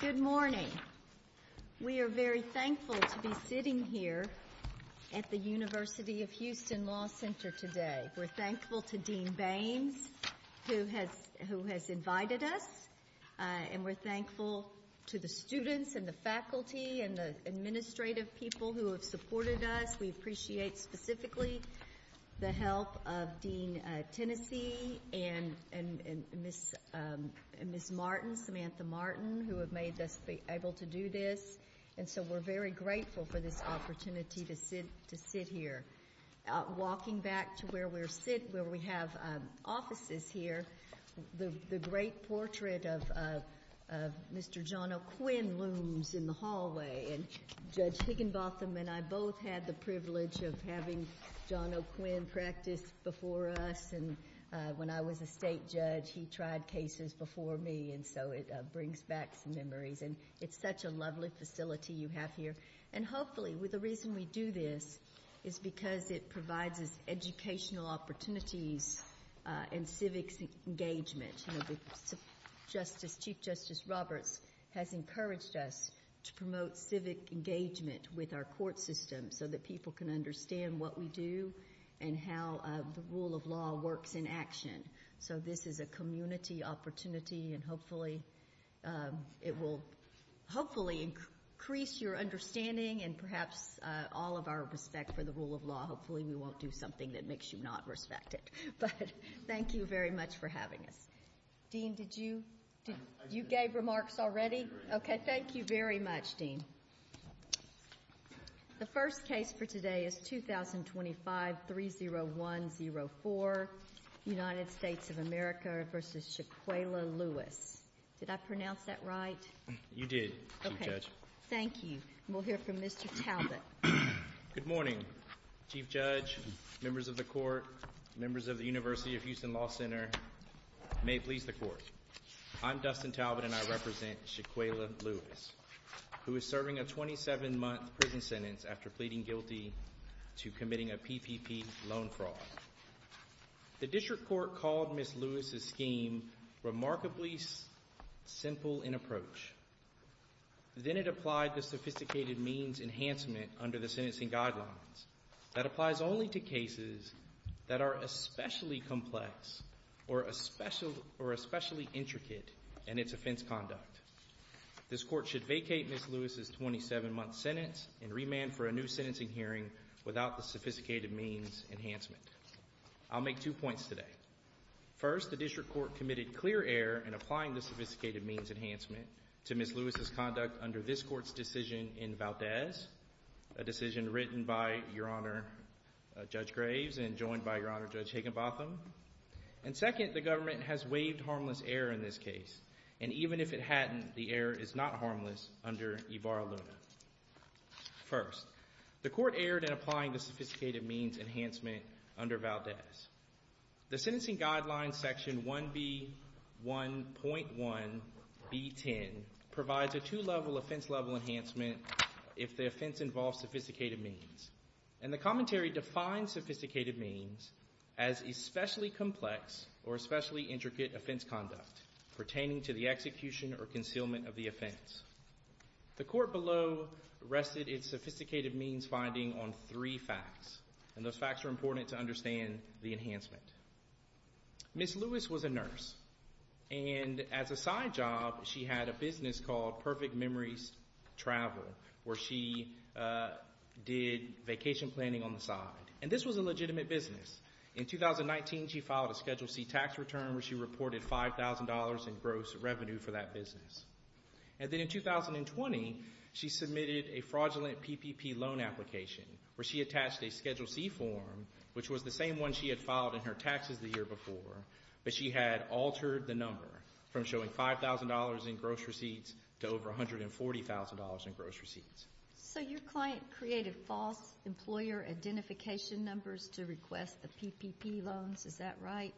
Good morning. We are very thankful to be sitting here at the University of Houston Law Center today. We're thankful to Dean Baines who has invited us, and we're thankful to the students and the faculty and the administrative people who have supported us. We appreciate specifically the help of Dean Tennessee and Ms. Martin, Samantha Martin, who have made us be able to do this. And so we're very grateful for this opportunity to sit here. Walking back to where we sit, where we have offices here, the great portrait of Mr. John O'Quinn looms in the hallway. And Judge Higginbotham and I both had the privilege of having John O'Quinn practice before us. And when I was a state judge, he tried cases before me, and so it brings back some memories. And it's such a lovely facility you have here. And hopefully, the reason we do this is because it provides us educational opportunities and civic engagement. Chief Justice Roberts has encouraged us to promote civic engagement with our court system so that people can understand what we do and how the rule of law works in action. So this is a community opportunity, and hopefully it will hopefully increase your understanding and perhaps all of our respect for the rule of law. Hopefully we won't do something that makes you not respect it. But thank you very much for having us. Dean, did you? You gave remarks already? Okay. Thank you very much, Dean. The first case for today is 2025-30104, United States of America v. Shaquayla Lewis. Did I pronounce that right? You did, Chief Judge. Okay. Thank you. We'll hear from Mr. Talbot. Good morning, Chief Judge, members of the Court, members of the University of Houston Law Center, may it please the Court. I'm Dustin Talbot, and I represent Shaquayla Lewis, who is serving a 27-month prison sentence after pleading guilty to committing a PPP loan fraud. The District Court called Ms. Lewis's scheme remarkably simple in approach. Then it applied the sophisticated means enhancement under the sentencing guidelines. That applies only to cases that are especially complex or especially intricate in its offense conduct. This Court should vacate Ms. Lewis's 27-month sentence and remand for a new sentencing hearing without the sophisticated means enhancement. I'll make two points today. First, the District Court committed clear error in applying the sophisticated means enhancement to Ms. Lewis's conduct under this Court's decision in Valdez, a decision written by Your Honor Judge Graves and joined by Your Honor Judge Higginbotham. And second, the Government has waived harmless error in this case, and even if it hadn't, the error is not harmless under Ivaro Luna. First, the Court erred in applying the sophisticated means enhancement under Valdez. The sentencing guidelines section 1B1.1B10 provides a two-level offense-level enhancement if the offense involves sophisticated means, and the commentary defines sophisticated means as especially complex or especially intricate offense conduct pertaining to the execution or concealment of the offense. The Court below rested its sophisticated means finding on three facts, and those facts are important to understand the enhancement. Ms. Lewis was a nurse, and as a side job, she had a business called Perfect Memories Travel, where she did vacation planning on the side. And this was a legitimate business. In 2019, she filed a Schedule C tax return where she reported $5,000 in gross revenue for that business. And then in 2020, she submitted a fraudulent PPP loan application where she attached a Schedule C form, which was the same one she had filed in her taxes the year before, but she had altered the number from showing $5,000 in gross receipts to over $140,000 in gross receipts. So your client created false employer identification numbers to request the PPP loans, is that right?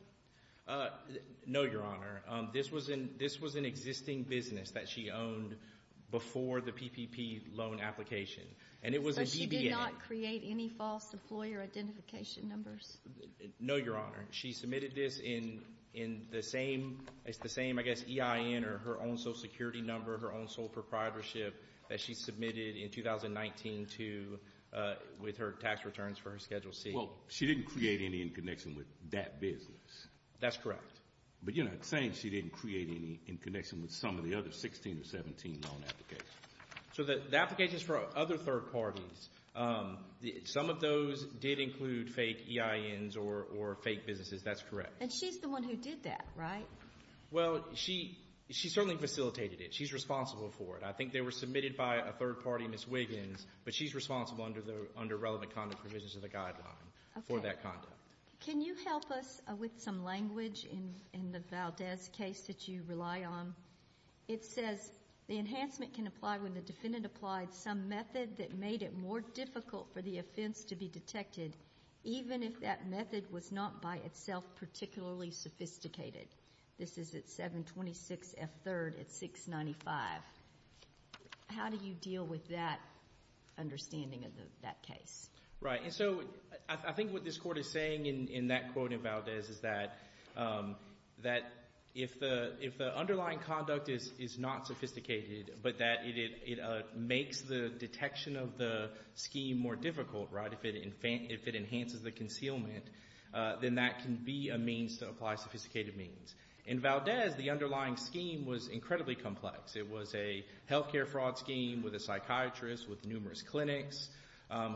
No, Your Honor. This was an existing business that she owned before the PPP loan application, and it was a BBN. So she did not create any false employer identification numbers? No, Your Honor. She submitted this in the same, I guess, EIN or her own social security number, her own sole proprietorship that she submitted in 2019 with her tax returns for her Schedule C. Well, she didn't create any in connection with that business? That's correct. But you're not saying she didn't create any in connection with some of the other 16 or 17 loan applications? So the applications for other third parties, some of those did include fake EINs or fake businesses. That's correct. And she's the one who did that, right? Well, she certainly facilitated it. She's responsible for it. I think they were submitted by a third party, Ms. Wiggins, but she's responsible under relevant conduct provisions of the guideline for that conduct. Can you help us with some language in the Valdez case that you rely on? It says the enhancement can apply when the defendant applied some method that made it more difficult for the offense to be detected, even if that method was not by itself particularly sophisticated. This is at 726 F. 3rd at 695. How do you deal with that understanding of that case? Right. And so I think what this Court is saying in that quote in Valdez is that if the underlying conduct is not sophisticated, but that it makes the detection of the scheme more difficult, if it enhances the concealment, then that can be a means to apply sophisticated means. In Valdez, the underlying scheme was incredibly complex. It was a health care fraud scheme with a psychiatrist with numerous clinics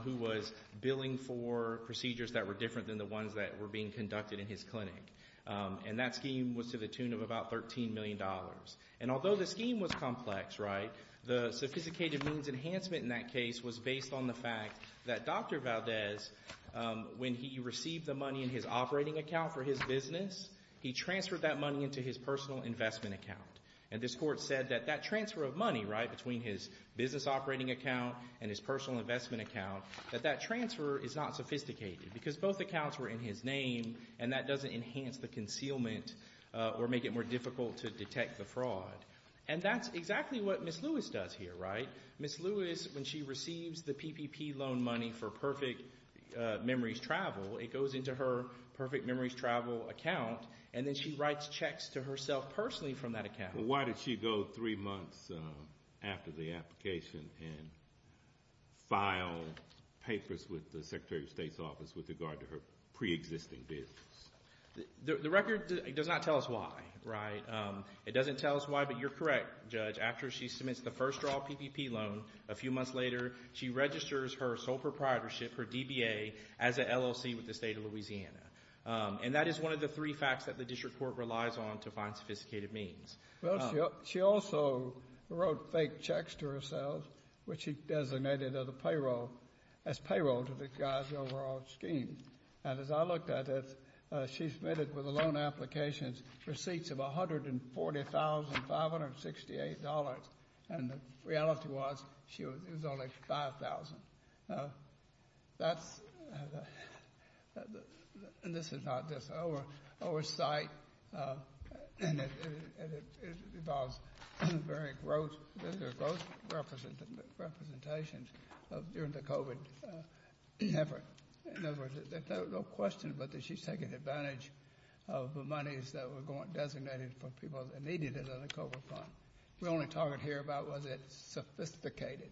who was billing for procedures that were different than the ones that were being conducted in his clinic. And that scheme was to the tune of about $13 million. And although the scheme was complex, right, the sophisticated means enhancement in that case was based on the fact that Dr. Valdez, when he received the money in his operating account for his business, he transferred that money into his personal investment account. And this Court said that that transfer of money, right, between his business operating account and his personal investment account, that that transfer is not sophisticated because both accounts were in his name, and that doesn't enhance the concealment or make it more difficult to detect the fraud. And that's exactly what Ms. Lewis does here, right? Ms. Lewis, when she receives the PPP loan money for Perfect Memories Travel, it goes into her Perfect Memories Travel account, and then she writes checks to herself personally from that account. Well, why did she go three months after the application and file papers with the Secretary of State's office with regard to her preexisting business? The record does not tell us why, right? It doesn't tell us why, but you're correct, Judge. After she submits the first draw PPP loan, a few months later, she registers her sole She also wrote fake checks to herself, which she designated as payroll to the guy's overall scheme. And as I looked at it, she submitted with the loan application receipts of $140,568, and the reality was she was only $5,000. And this is not just our oversight, and it involves very gross representations during the COVID effort. In other words, there's no question but that she's taking advantage of the monies that were designated for people that needed it in the COVID fund. We're only talking here about was it sophisticated.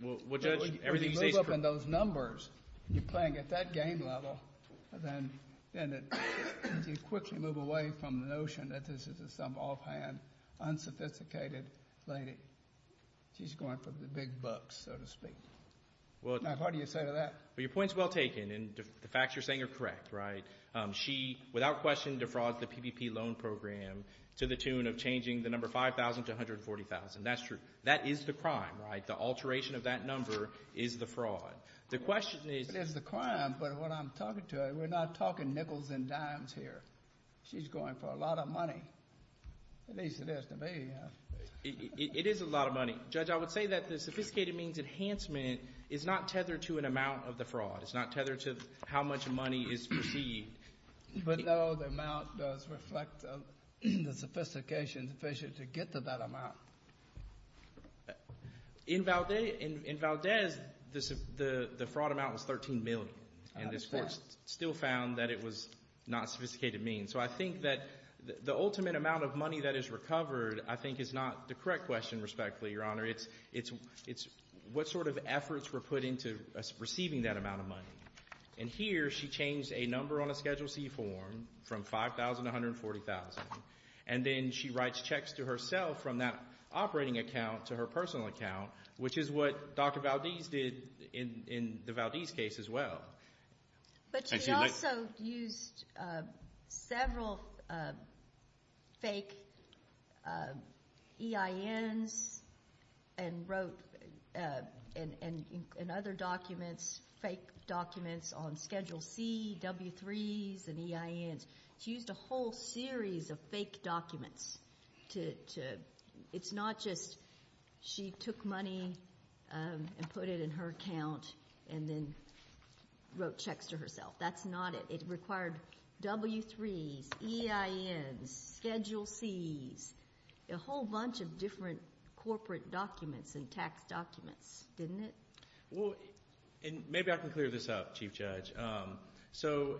Well, Judge, everything you say is correct. When you move up in those numbers, you're playing at that game level, and then you quickly move away from the notion that this is some offhand, unsophisticated lady. She's going for the big bucks, so to speak. Now, how do you say to that? Well, your point's well taken, and the facts you're saying are correct, right? She without question defrauded the PPP loan program to the tune of changing the number $5,000 to $140,000. And that's true. That is the crime, right? The alteration of that number is the fraud. The question is... It is the crime, but when I'm talking to her, we're not talking nickels and dimes here. She's going for a lot of money. At least it is to me. It is a lot of money. Judge, I would say that the sophisticated means enhancement is not tethered to an amount of the fraud. It's not tethered to how much money is perceived. But, no, the amount does reflect the sophistication to get to that amount. In Valdez, the fraud amount was $13 million. And this Court still found that it was not a sophisticated means. So I think that the ultimate amount of money that is recovered I think is not the correct question, respectfully, Your Honor. It's what sort of efforts were put into receiving that amount of money. And here she changed a number on a Schedule C form from $5,000 to $140,000. And then she writes checks to herself from that operating account to her personal account, which is what Dr. Valdez did in the Valdez case as well. But she also used several fake EINs and wrote in other documents, fake documents on Schedule C, W-3s, and EINs. She used a whole series of fake documents. It's not just she took money and put it in her account and then wrote checks to herself. That's not it. It required W-3s, EINs, Schedule Cs, a whole bunch of different corporate documents and tax documents, didn't it? Well, and maybe I can clear this up, Chief Judge. So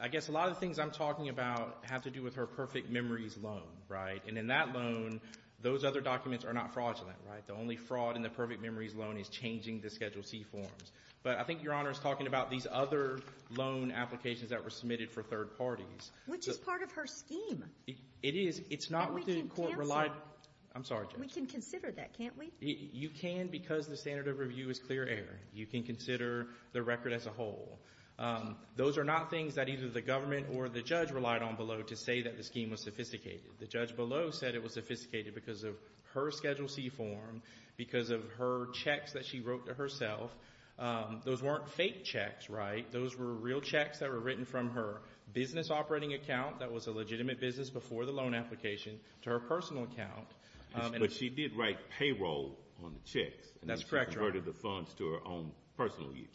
I guess a lot of the things I'm talking about have to do with her Perfect Memories loan, right? And in that loan, those other documents are not fraudulent, right? The only fraud in the Perfect Memories loan is changing the Schedule C forms. But I think Your Honor is talking about these other loan applications that were submitted for third parties. Which is part of her scheme. It is. It's not what the court relied on. I'm sorry, Judge. We can consider that, can't we? You can because the standard of review is clear air. You can consider the record as a whole. Those are not things that either the government or the judge relied on below to say that the scheme was sophisticated. The judge below said it was sophisticated because of her Schedule C form, because of her checks that she wrote to herself. Those weren't fake checks, right? Those were real checks that were written from her business operating account that was a legitimate business before the loan application to her personal account. But she did write payroll on the checks. That's correct, Your Honor. And she converted the funds to her own personal use.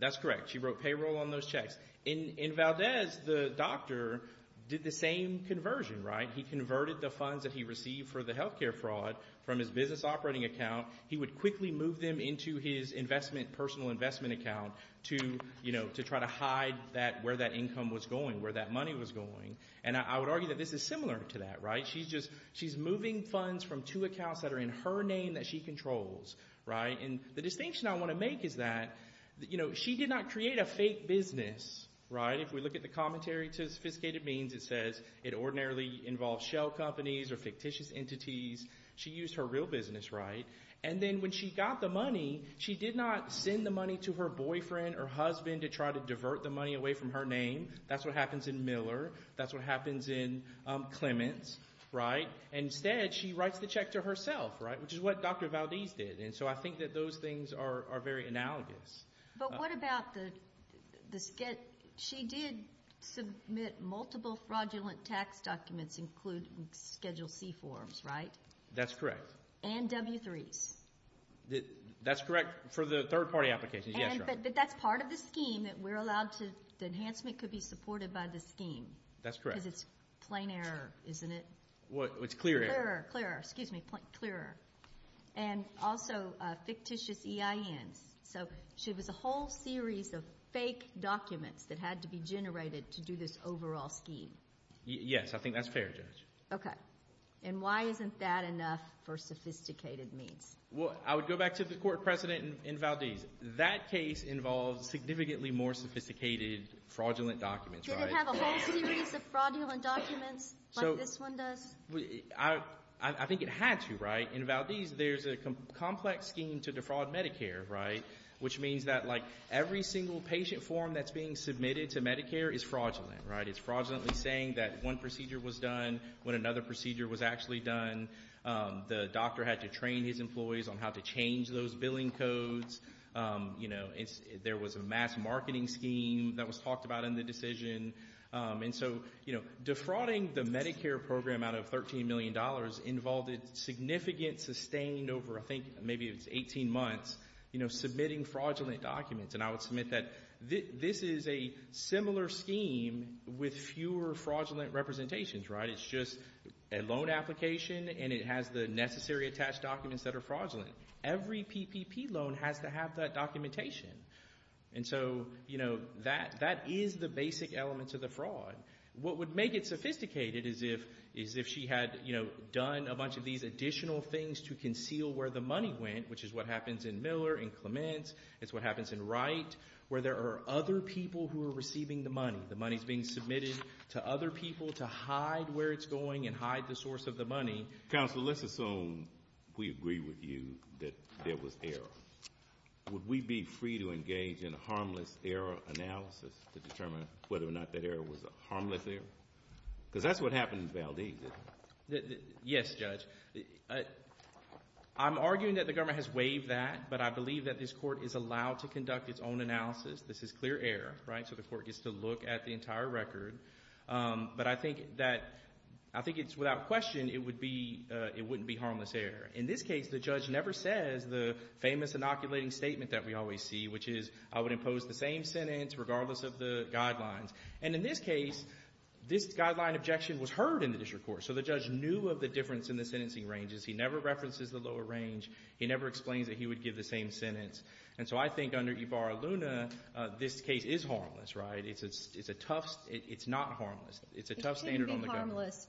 That's correct. She wrote payroll on those checks. In Valdez, the doctor did the same conversion, right? He converted the funds that he received for the health care fraud from his business operating account. He would quickly move them into his personal investment account to try to hide where that income was going, where that money was going. And I would argue that this is similar to that, right? She's moving funds from two accounts that are in her name that she controls, right? And the distinction I want to make is that she did not create a fake business, right? If we look at the commentary to sophisticated means, it says it ordinarily involves shell companies or fictitious entities. She used her real business, right? And then when she got the money, she did not send the money to her boyfriend or husband to try to divert the money away from her name. That's what happens in Miller. That's what happens in Clements, right? Instead, she writes the check to herself, right, which is what Dr. Valdez did. And so I think that those things are very analogous. But what about the – she did submit multiple fraudulent tax documents, including Schedule C forms, right? That's correct. And W-3s. That's correct for the third-party applications, yes. But that's part of the scheme that we're allowed to – the enhancement could be supported by the scheme. That's correct. Because it's plain error, isn't it? It's clear error. Clearer, clearer. Excuse me, clearer. And also fictitious EINs. So it was a whole series of fake documents that had to be generated to do this overall scheme. Yes. I think that's fair, Judge. Okay. And why isn't that enough for sophisticated means? Well, I would go back to the court precedent in Valdez. That case involves significantly more sophisticated fraudulent documents, right? Did it have a whole series of fraudulent documents like this one does? I think it had to, right? In Valdez, there's a complex scheme to defraud Medicare, right? Which means that, like, every single patient form that's being submitted to Medicare is fraudulent, right? It's fraudulently saying that one procedure was done when another procedure was actually done. The doctor had to train his employees on how to change those billing codes. There was a mass marketing scheme that was talked about in the decision. And so, you know, defrauding the Medicare program out of $13 million involved a significant sustained over, I think, maybe it was 18 months, you know, submitting fraudulent documents. And I would submit that this is a similar scheme with fewer fraudulent representations, right? It's just a loan application, and it has the necessary attached documents that are fraudulent. Every PPP loan has to have that documentation. And so, you know, that is the basic elements of the fraud. What would make it sophisticated is if she had, you know, done a bunch of these additional things to conceal where the money went, which is what happens in Miller and Clements. It's what happens in Wright, where there are other people who are receiving the money. The money is being submitted to other people to hide where it's going and hide the source of the money. Counsel, let's assume we agree with you that there was error. Would we be free to engage in a harmless error analysis to determine whether or not that error was a harmless error? Because that's what happened in Valdez, isn't it? Yes, Judge. I'm arguing that the government has waived that, but I believe that this Court is allowed to conduct its own analysis. This is clear error, right? So the Court gets to look at the entire record. But I think that it's without question it wouldn't be harmless error. In this case, the judge never says the famous inoculating statement that we always see, which is I would impose the same sentence regardless of the guidelines. And in this case, this guideline objection was heard in the district court. So the judge knew of the difference in the sentencing ranges. He never references the lower range. He never explains that he would give the same sentence. And so I think under Ivar Aluna, this case is harmless, right? It's a tough – it's not harmless. It's a tough standard on the government. Harmless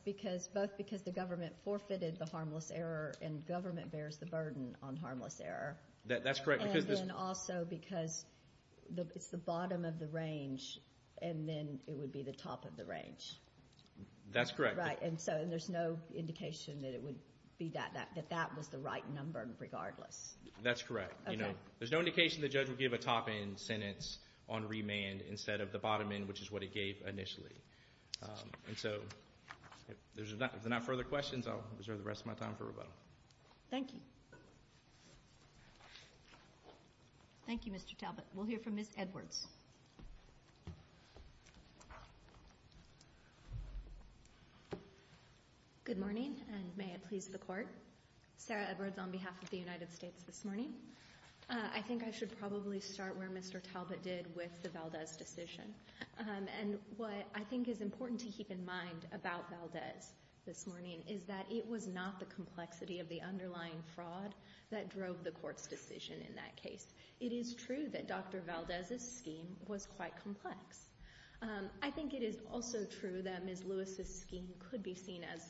both because the government forfeited the harmless error and government bears the burden on harmless error. That's correct. And then also because it's the bottom of the range, and then it would be the top of the range. That's correct. Right. And so there's no indication that it would be that – that that was the right number regardless. That's correct. There's no indication the judge would give a top-end sentence on remand instead of the bottom end, which is what it gave initially. And so if there's not further questions, I'll reserve the rest of my time for rebuttal. Thank you. Thank you, Mr. Talbot. We'll hear from Ms. Edwards. Good morning, and may it please the Court. Sarah Edwards on behalf of the United States this morning. I think I should probably start where Mr. Talbot did with the Valdez decision. And what I think is important to keep in mind about Valdez this morning is that it was not the complexity of the underlying fraud that drove the Court's decision in that case. It is true that Dr. Valdez's scheme was quite complex. I think it is also true that Ms. Lewis's scheme could be seen as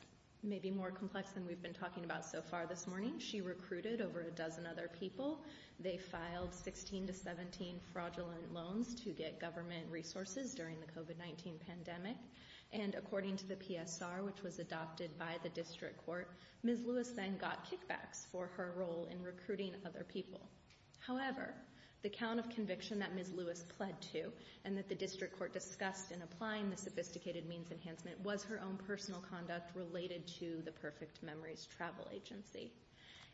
maybe more complex than we've been talking about so far this morning. She recruited over a dozen other people. They filed 16 to 17 fraudulent loans to get government resources during the COVID-19 pandemic. And according to the PSR, which was adopted by the District Court, Ms. Lewis then got kickbacks for her role in recruiting other people. However, the count of conviction that Ms. Lewis pled to and that the District Court discussed in applying the sophisticated means enhancement was her own personal conduct related to the Perfect Memories Travel Agency.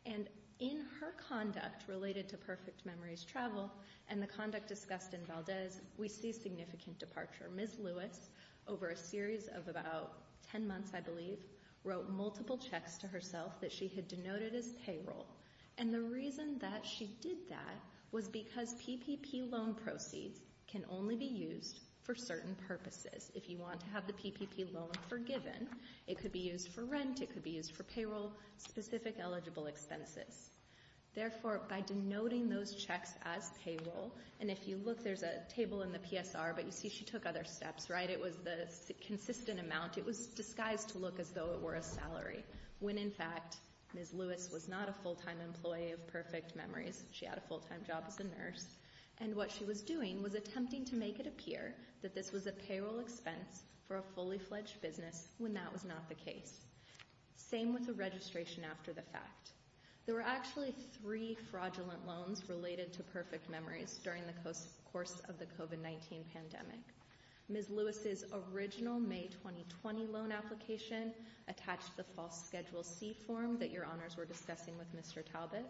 And in her conduct related to Perfect Memories Travel and the conduct discussed in Valdez, we see significant departure. Ms. Lewis, over a series of about 10 months, I believe, wrote multiple checks to herself that she had denoted as payroll. And the reason that she did that was because PPP loan proceeds can only be used for certain purposes. If you want to have the PPP loan forgiven, it could be used for rent, it could be used for payroll-specific eligible expenses. Therefore, by denoting those checks as payroll, and if you look, there's a table in the PSR, but you see she took other steps, right? It was the consistent amount. It was disguised to look as though it were a salary, when in fact Ms. Lewis was not a full-time employee of Perfect Memories. She had a full-time job as a nurse. And what she was doing was attempting to make it appear that this was a payroll expense for a fully-fledged business when that was not the case. Same with the registration after the fact. There were actually three fraudulent loans related to Perfect Memories during the course of the COVID-19 pandemic. Ms. Lewis's original May 2020 loan application attached the false schedule C form that your honors were discussing with Mr. Talbot.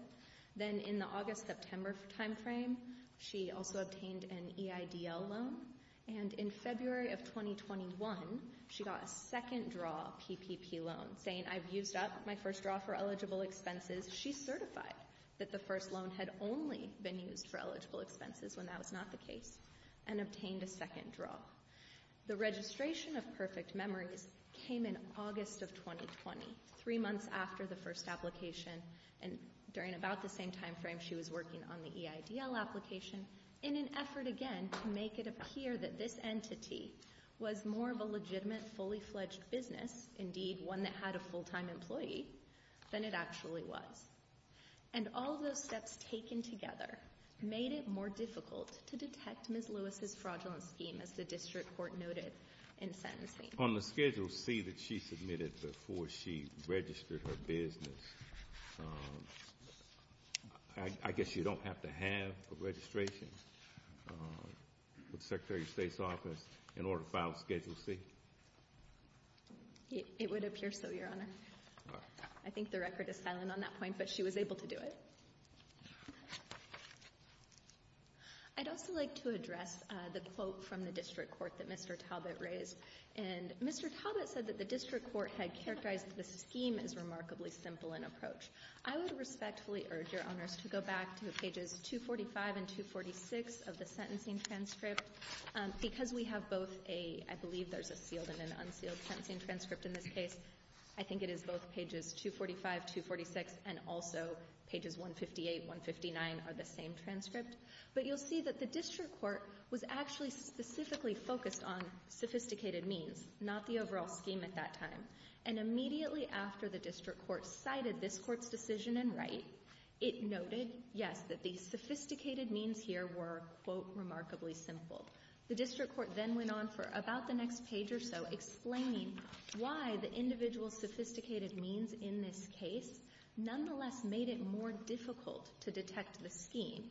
Then in the August-September timeframe, she also obtained an EIDL loan. And in February of 2021, she got a second-draw PPP loan, saying, I've used up my first draw for eligible expenses. She certified that the first loan had only been used for eligible expenses when that was not the case and obtained a second draw. The registration of Perfect Memories came in August of 2020, three months after the first application, and during about the same timeframe she was working on the EIDL application, in an effort, again, to make it appear that this entity was more of a legitimate, fully-fledged business, indeed one that had a full-time employee, than it actually was. And all those steps taken together made it more difficult to detect Ms. Lewis's fraudulent scheme, as the district court noted in sentencing. On the Schedule C that she submitted before she registered her business, I guess you don't have to have a registration with the Secretary of State's office in order to file Schedule C? It would appear so, Your Honor. I think the record is silent on that point, but she was able to do it. I'd also like to address the quote from the district court that Mr. Talbot raised. And Mr. Talbot said that the district court had characterized the scheme as remarkably simple in approach. I would respectfully urge Your Honors to go back to pages 245 and 246 of the sentencing transcript. Because we have both a, I believe there's a sealed and an unsealed sentencing transcript in this case, I think it is both pages 245, 246, and also pages 158, 159 are the same transcript. But you'll see that the district court was actually specifically focused on sophisticated means, not the overall scheme at that time. And immediately after the district court cited this Court's decision in Wright, it noted, yes, that the sophisticated means here were, quote, remarkably simple. The district court then went on for about the next page or so, explaining why the individual sophisticated means in this case nonetheless made it more difficult to detect the scheme,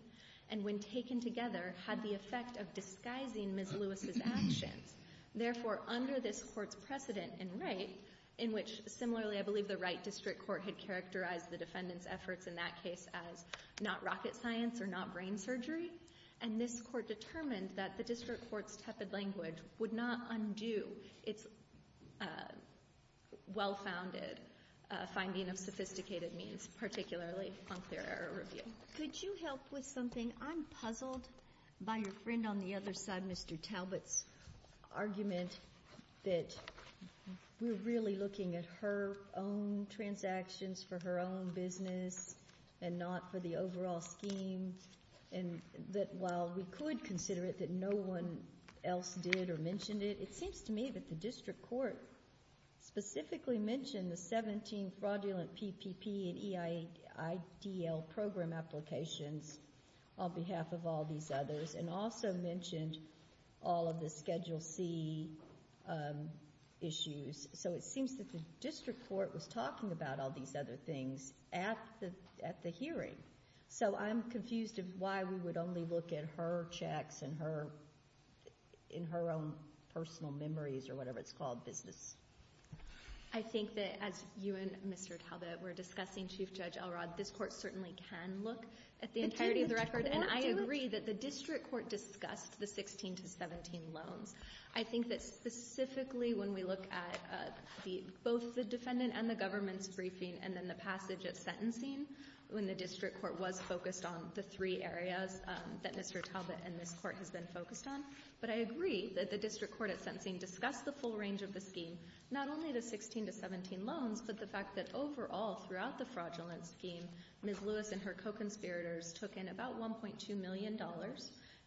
and when taken together, had the effect of disguising Ms. Lewis's actions. Therefore, under this Court's precedent in Wright, in which, similarly, I believe the Wright district court had characterized the defendant's efforts in that case as not rocket science or not brain surgery, and this Court determined that the district court's tepid language would not undo its well-founded finding of sophisticated means, particularly on clear error review. Could you help with something? I'm puzzled by your friend on the other side, Mr. Talbot's argument that we're really looking at her own transactions for her own business and not for the overall scheme. And that while we could consider it that no one else did or mentioned it, it seems to me that the district court specifically mentioned the 17 fraudulent PPP and EIDL program applications on behalf of all these others and also mentioned all of the Schedule C issues. So it seems that the district court was talking about all these other things at the hearing. So I'm confused as to why we would only look at her checks and her own personal memories or whatever it's called, business. I think that as you and Mr. Talbot were discussing, Chief Judge Elrod, this Court certainly can look at the entirety of the record. And I agree that the district court discussed the 16 to 17 loans. I think that specifically when we look at both the defendant and the government's briefing and then the passage at sentencing when the district court was focused on the three areas that Mr. Talbot and this Court has been focused on. But I agree that the district court at sentencing discussed the full range of the scheme, not only the 16 to 17 loans, but the fact that overall throughout the fraudulent scheme, Ms. Lewis and her co-conspirators took in about $1.2 million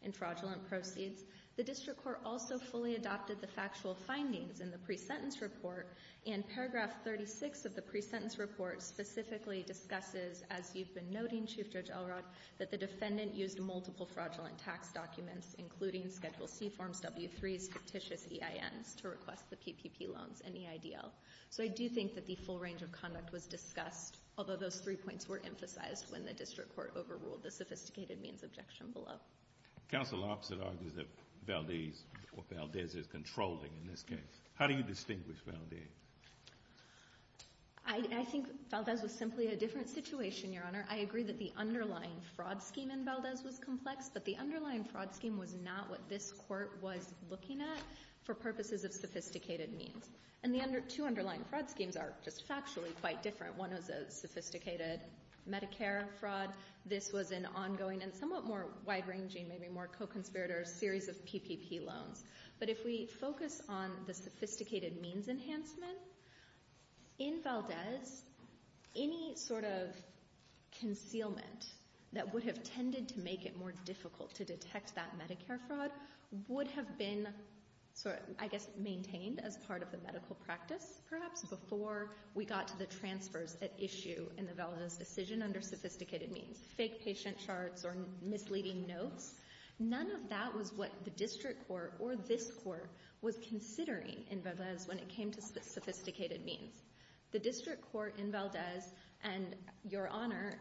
in fraudulent proceeds. The district court also fully adopted the factual findings in the pre-sentence report specifically discusses, as you've been noting, Chief Judge Elrod, that the defendant used multiple fraudulent tax documents, including Schedule C forms, W-3s, fictitious EINs, to request the PPP loans and EIDL. So I do think that the full range of conduct was discussed, although those three points were emphasized when the district court overruled the sophisticated means objection below. The counsel opposite argues that Valdez is controlling in this case. How do you distinguish Valdez? I think Valdez was simply a different situation, Your Honor. I agree that the underlying fraud scheme in Valdez was complex, but the underlying fraud scheme was not what this Court was looking at for purposes of sophisticated means. And the two underlying fraud schemes are just factually quite different. One was a sophisticated Medicare fraud. This was an ongoing and somewhat more wide-ranging, maybe more co-conspirator series of PPP loans. But if we focus on the sophisticated means enhancement, in Valdez, any sort of concealment that would have tended to make it more difficult to detect that Medicare fraud would have been, I guess, maintained as part of the medical practice, perhaps, before we got to the transfers at issue in the Valdez decision under sophisticated means, fake patient charts or misleading notes. None of that was what the District Court or this Court was considering in Valdez when it came to sophisticated means. The District Court in Valdez and Your Honor,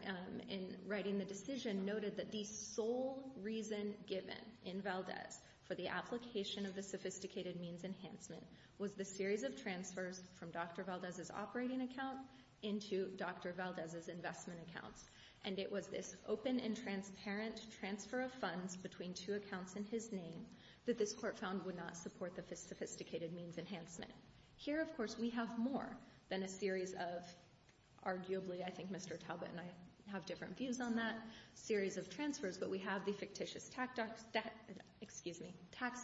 in writing the decision, noted that the sole reason given in Valdez for the application of the sophisticated means enhancement was the series of transfers from Dr. Valdez's operating account into Dr. Valdez's investment account. And it was this open and transparent transfer of funds between two accounts in his name that this Court found would not support the sophisticated means enhancement. Here, of course, we have more than a series of arguably, I think Mr. Talbot and I have different views on that, series of transfers. But we have the fictitious tax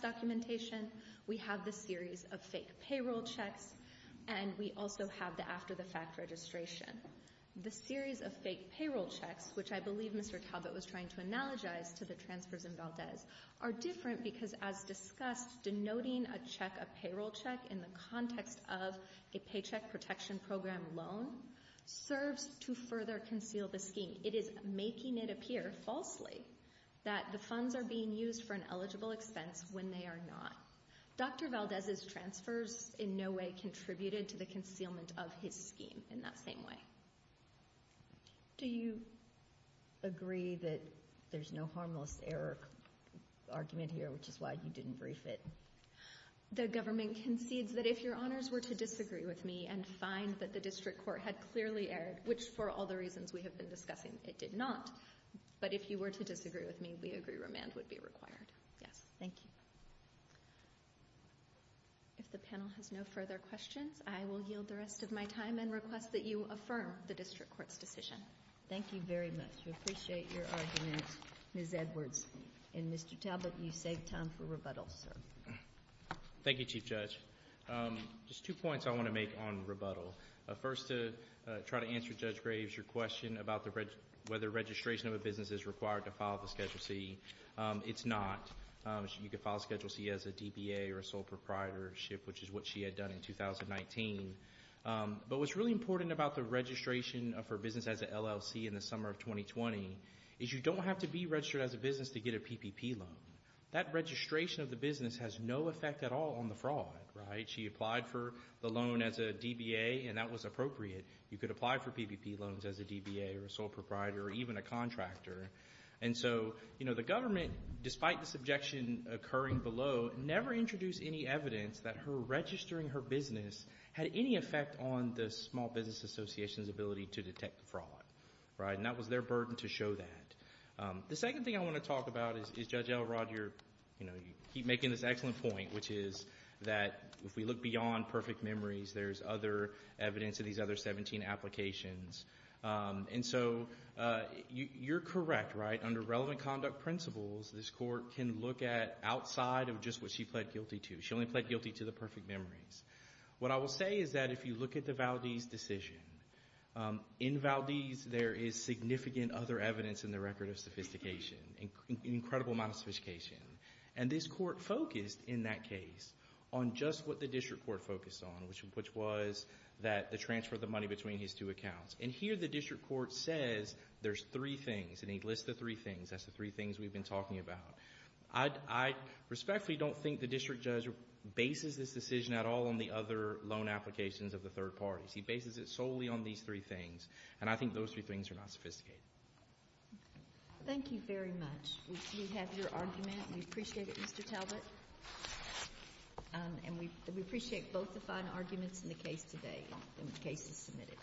documentation. We have the series of fake payroll checks. And we also have the after-the-fact registration. The series of fake payroll checks, which I believe Mr. Talbot was trying to analogize to the transfers in Valdez, are different because, as discussed, denoting a check, a payroll check, in the context of a paycheck protection program loan serves to further conceal the scheme. It is making it appear, falsely, that the funds are being used for an eligible expense when they are not. Dr. Valdez's transfers in no way contributed to the concealment of his scheme in that same way. Do you agree that there's no harmless error argument here, which is why you didn't brief it? The government concedes that if Your Honors were to disagree with me and find that the District Court had clearly erred, which for all the reasons we have been discussing, it did not, but if you were to disagree with me, we agree remand would be required. Yes. Thank you. If the panel has no further questions, I will yield the rest of my time and request that you affirm the District Court's decision. Thank you very much. We appreciate your argument, Ms. Edwards. And, Mr. Talbot, you save time for rebuttal, sir. Thank you, Chief Judge. Just two points I want to make on rebuttal. First, to try to answer Judge Graves' question about whether registration of a business is required to file the Schedule C. It's not. You could file Schedule C as a DBA or a sole proprietorship, which is what she had done in 2019. But what's really important about the registration of her business as an LLC in the summer of 2020 is you don't have to be registered as a business to get a PPP loan. That registration of the business has no effect at all on the fraud, right? She applied for the loan as a DBA, and that was appropriate. You could apply for PPP loans as a DBA or a sole proprietor or even a contractor. And so, you know, the government, despite the subjection occurring below, never introduced any evidence that her registering her business had any effect on the Small Business Association's ability to detect fraud, right? And that was their burden to show that. The second thing I want to talk about is Judge Elrod, you're, you know, you keep making this excellent point, which is that if we look beyond perfect memories, there's other evidence of these other 17 applications. And so you're correct, right? Under relevant conduct principles, this court can look at outside of just what she pled guilty to. She only pled guilty to the perfect memories. What I will say is that if you look at the Valdez decision, in Valdez there is significant other evidence in the record of sophistication, an incredible amount of sophistication. And this court focused in that case on just what the district court focused on, which was that the transfer of the money between his two accounts. And here the district court says there's three things. And he lists the three things. That's the three things we've been talking about. I respectfully don't think the district judge bases this decision at all on the other loan applications of the third parties. He bases it solely on these three things. And I think those three things are not sophisticated. Thank you very much. We have your argument. We appreciate it, Mr. Talbot. And we appreciate both the fine arguments in the case today and the cases submitted.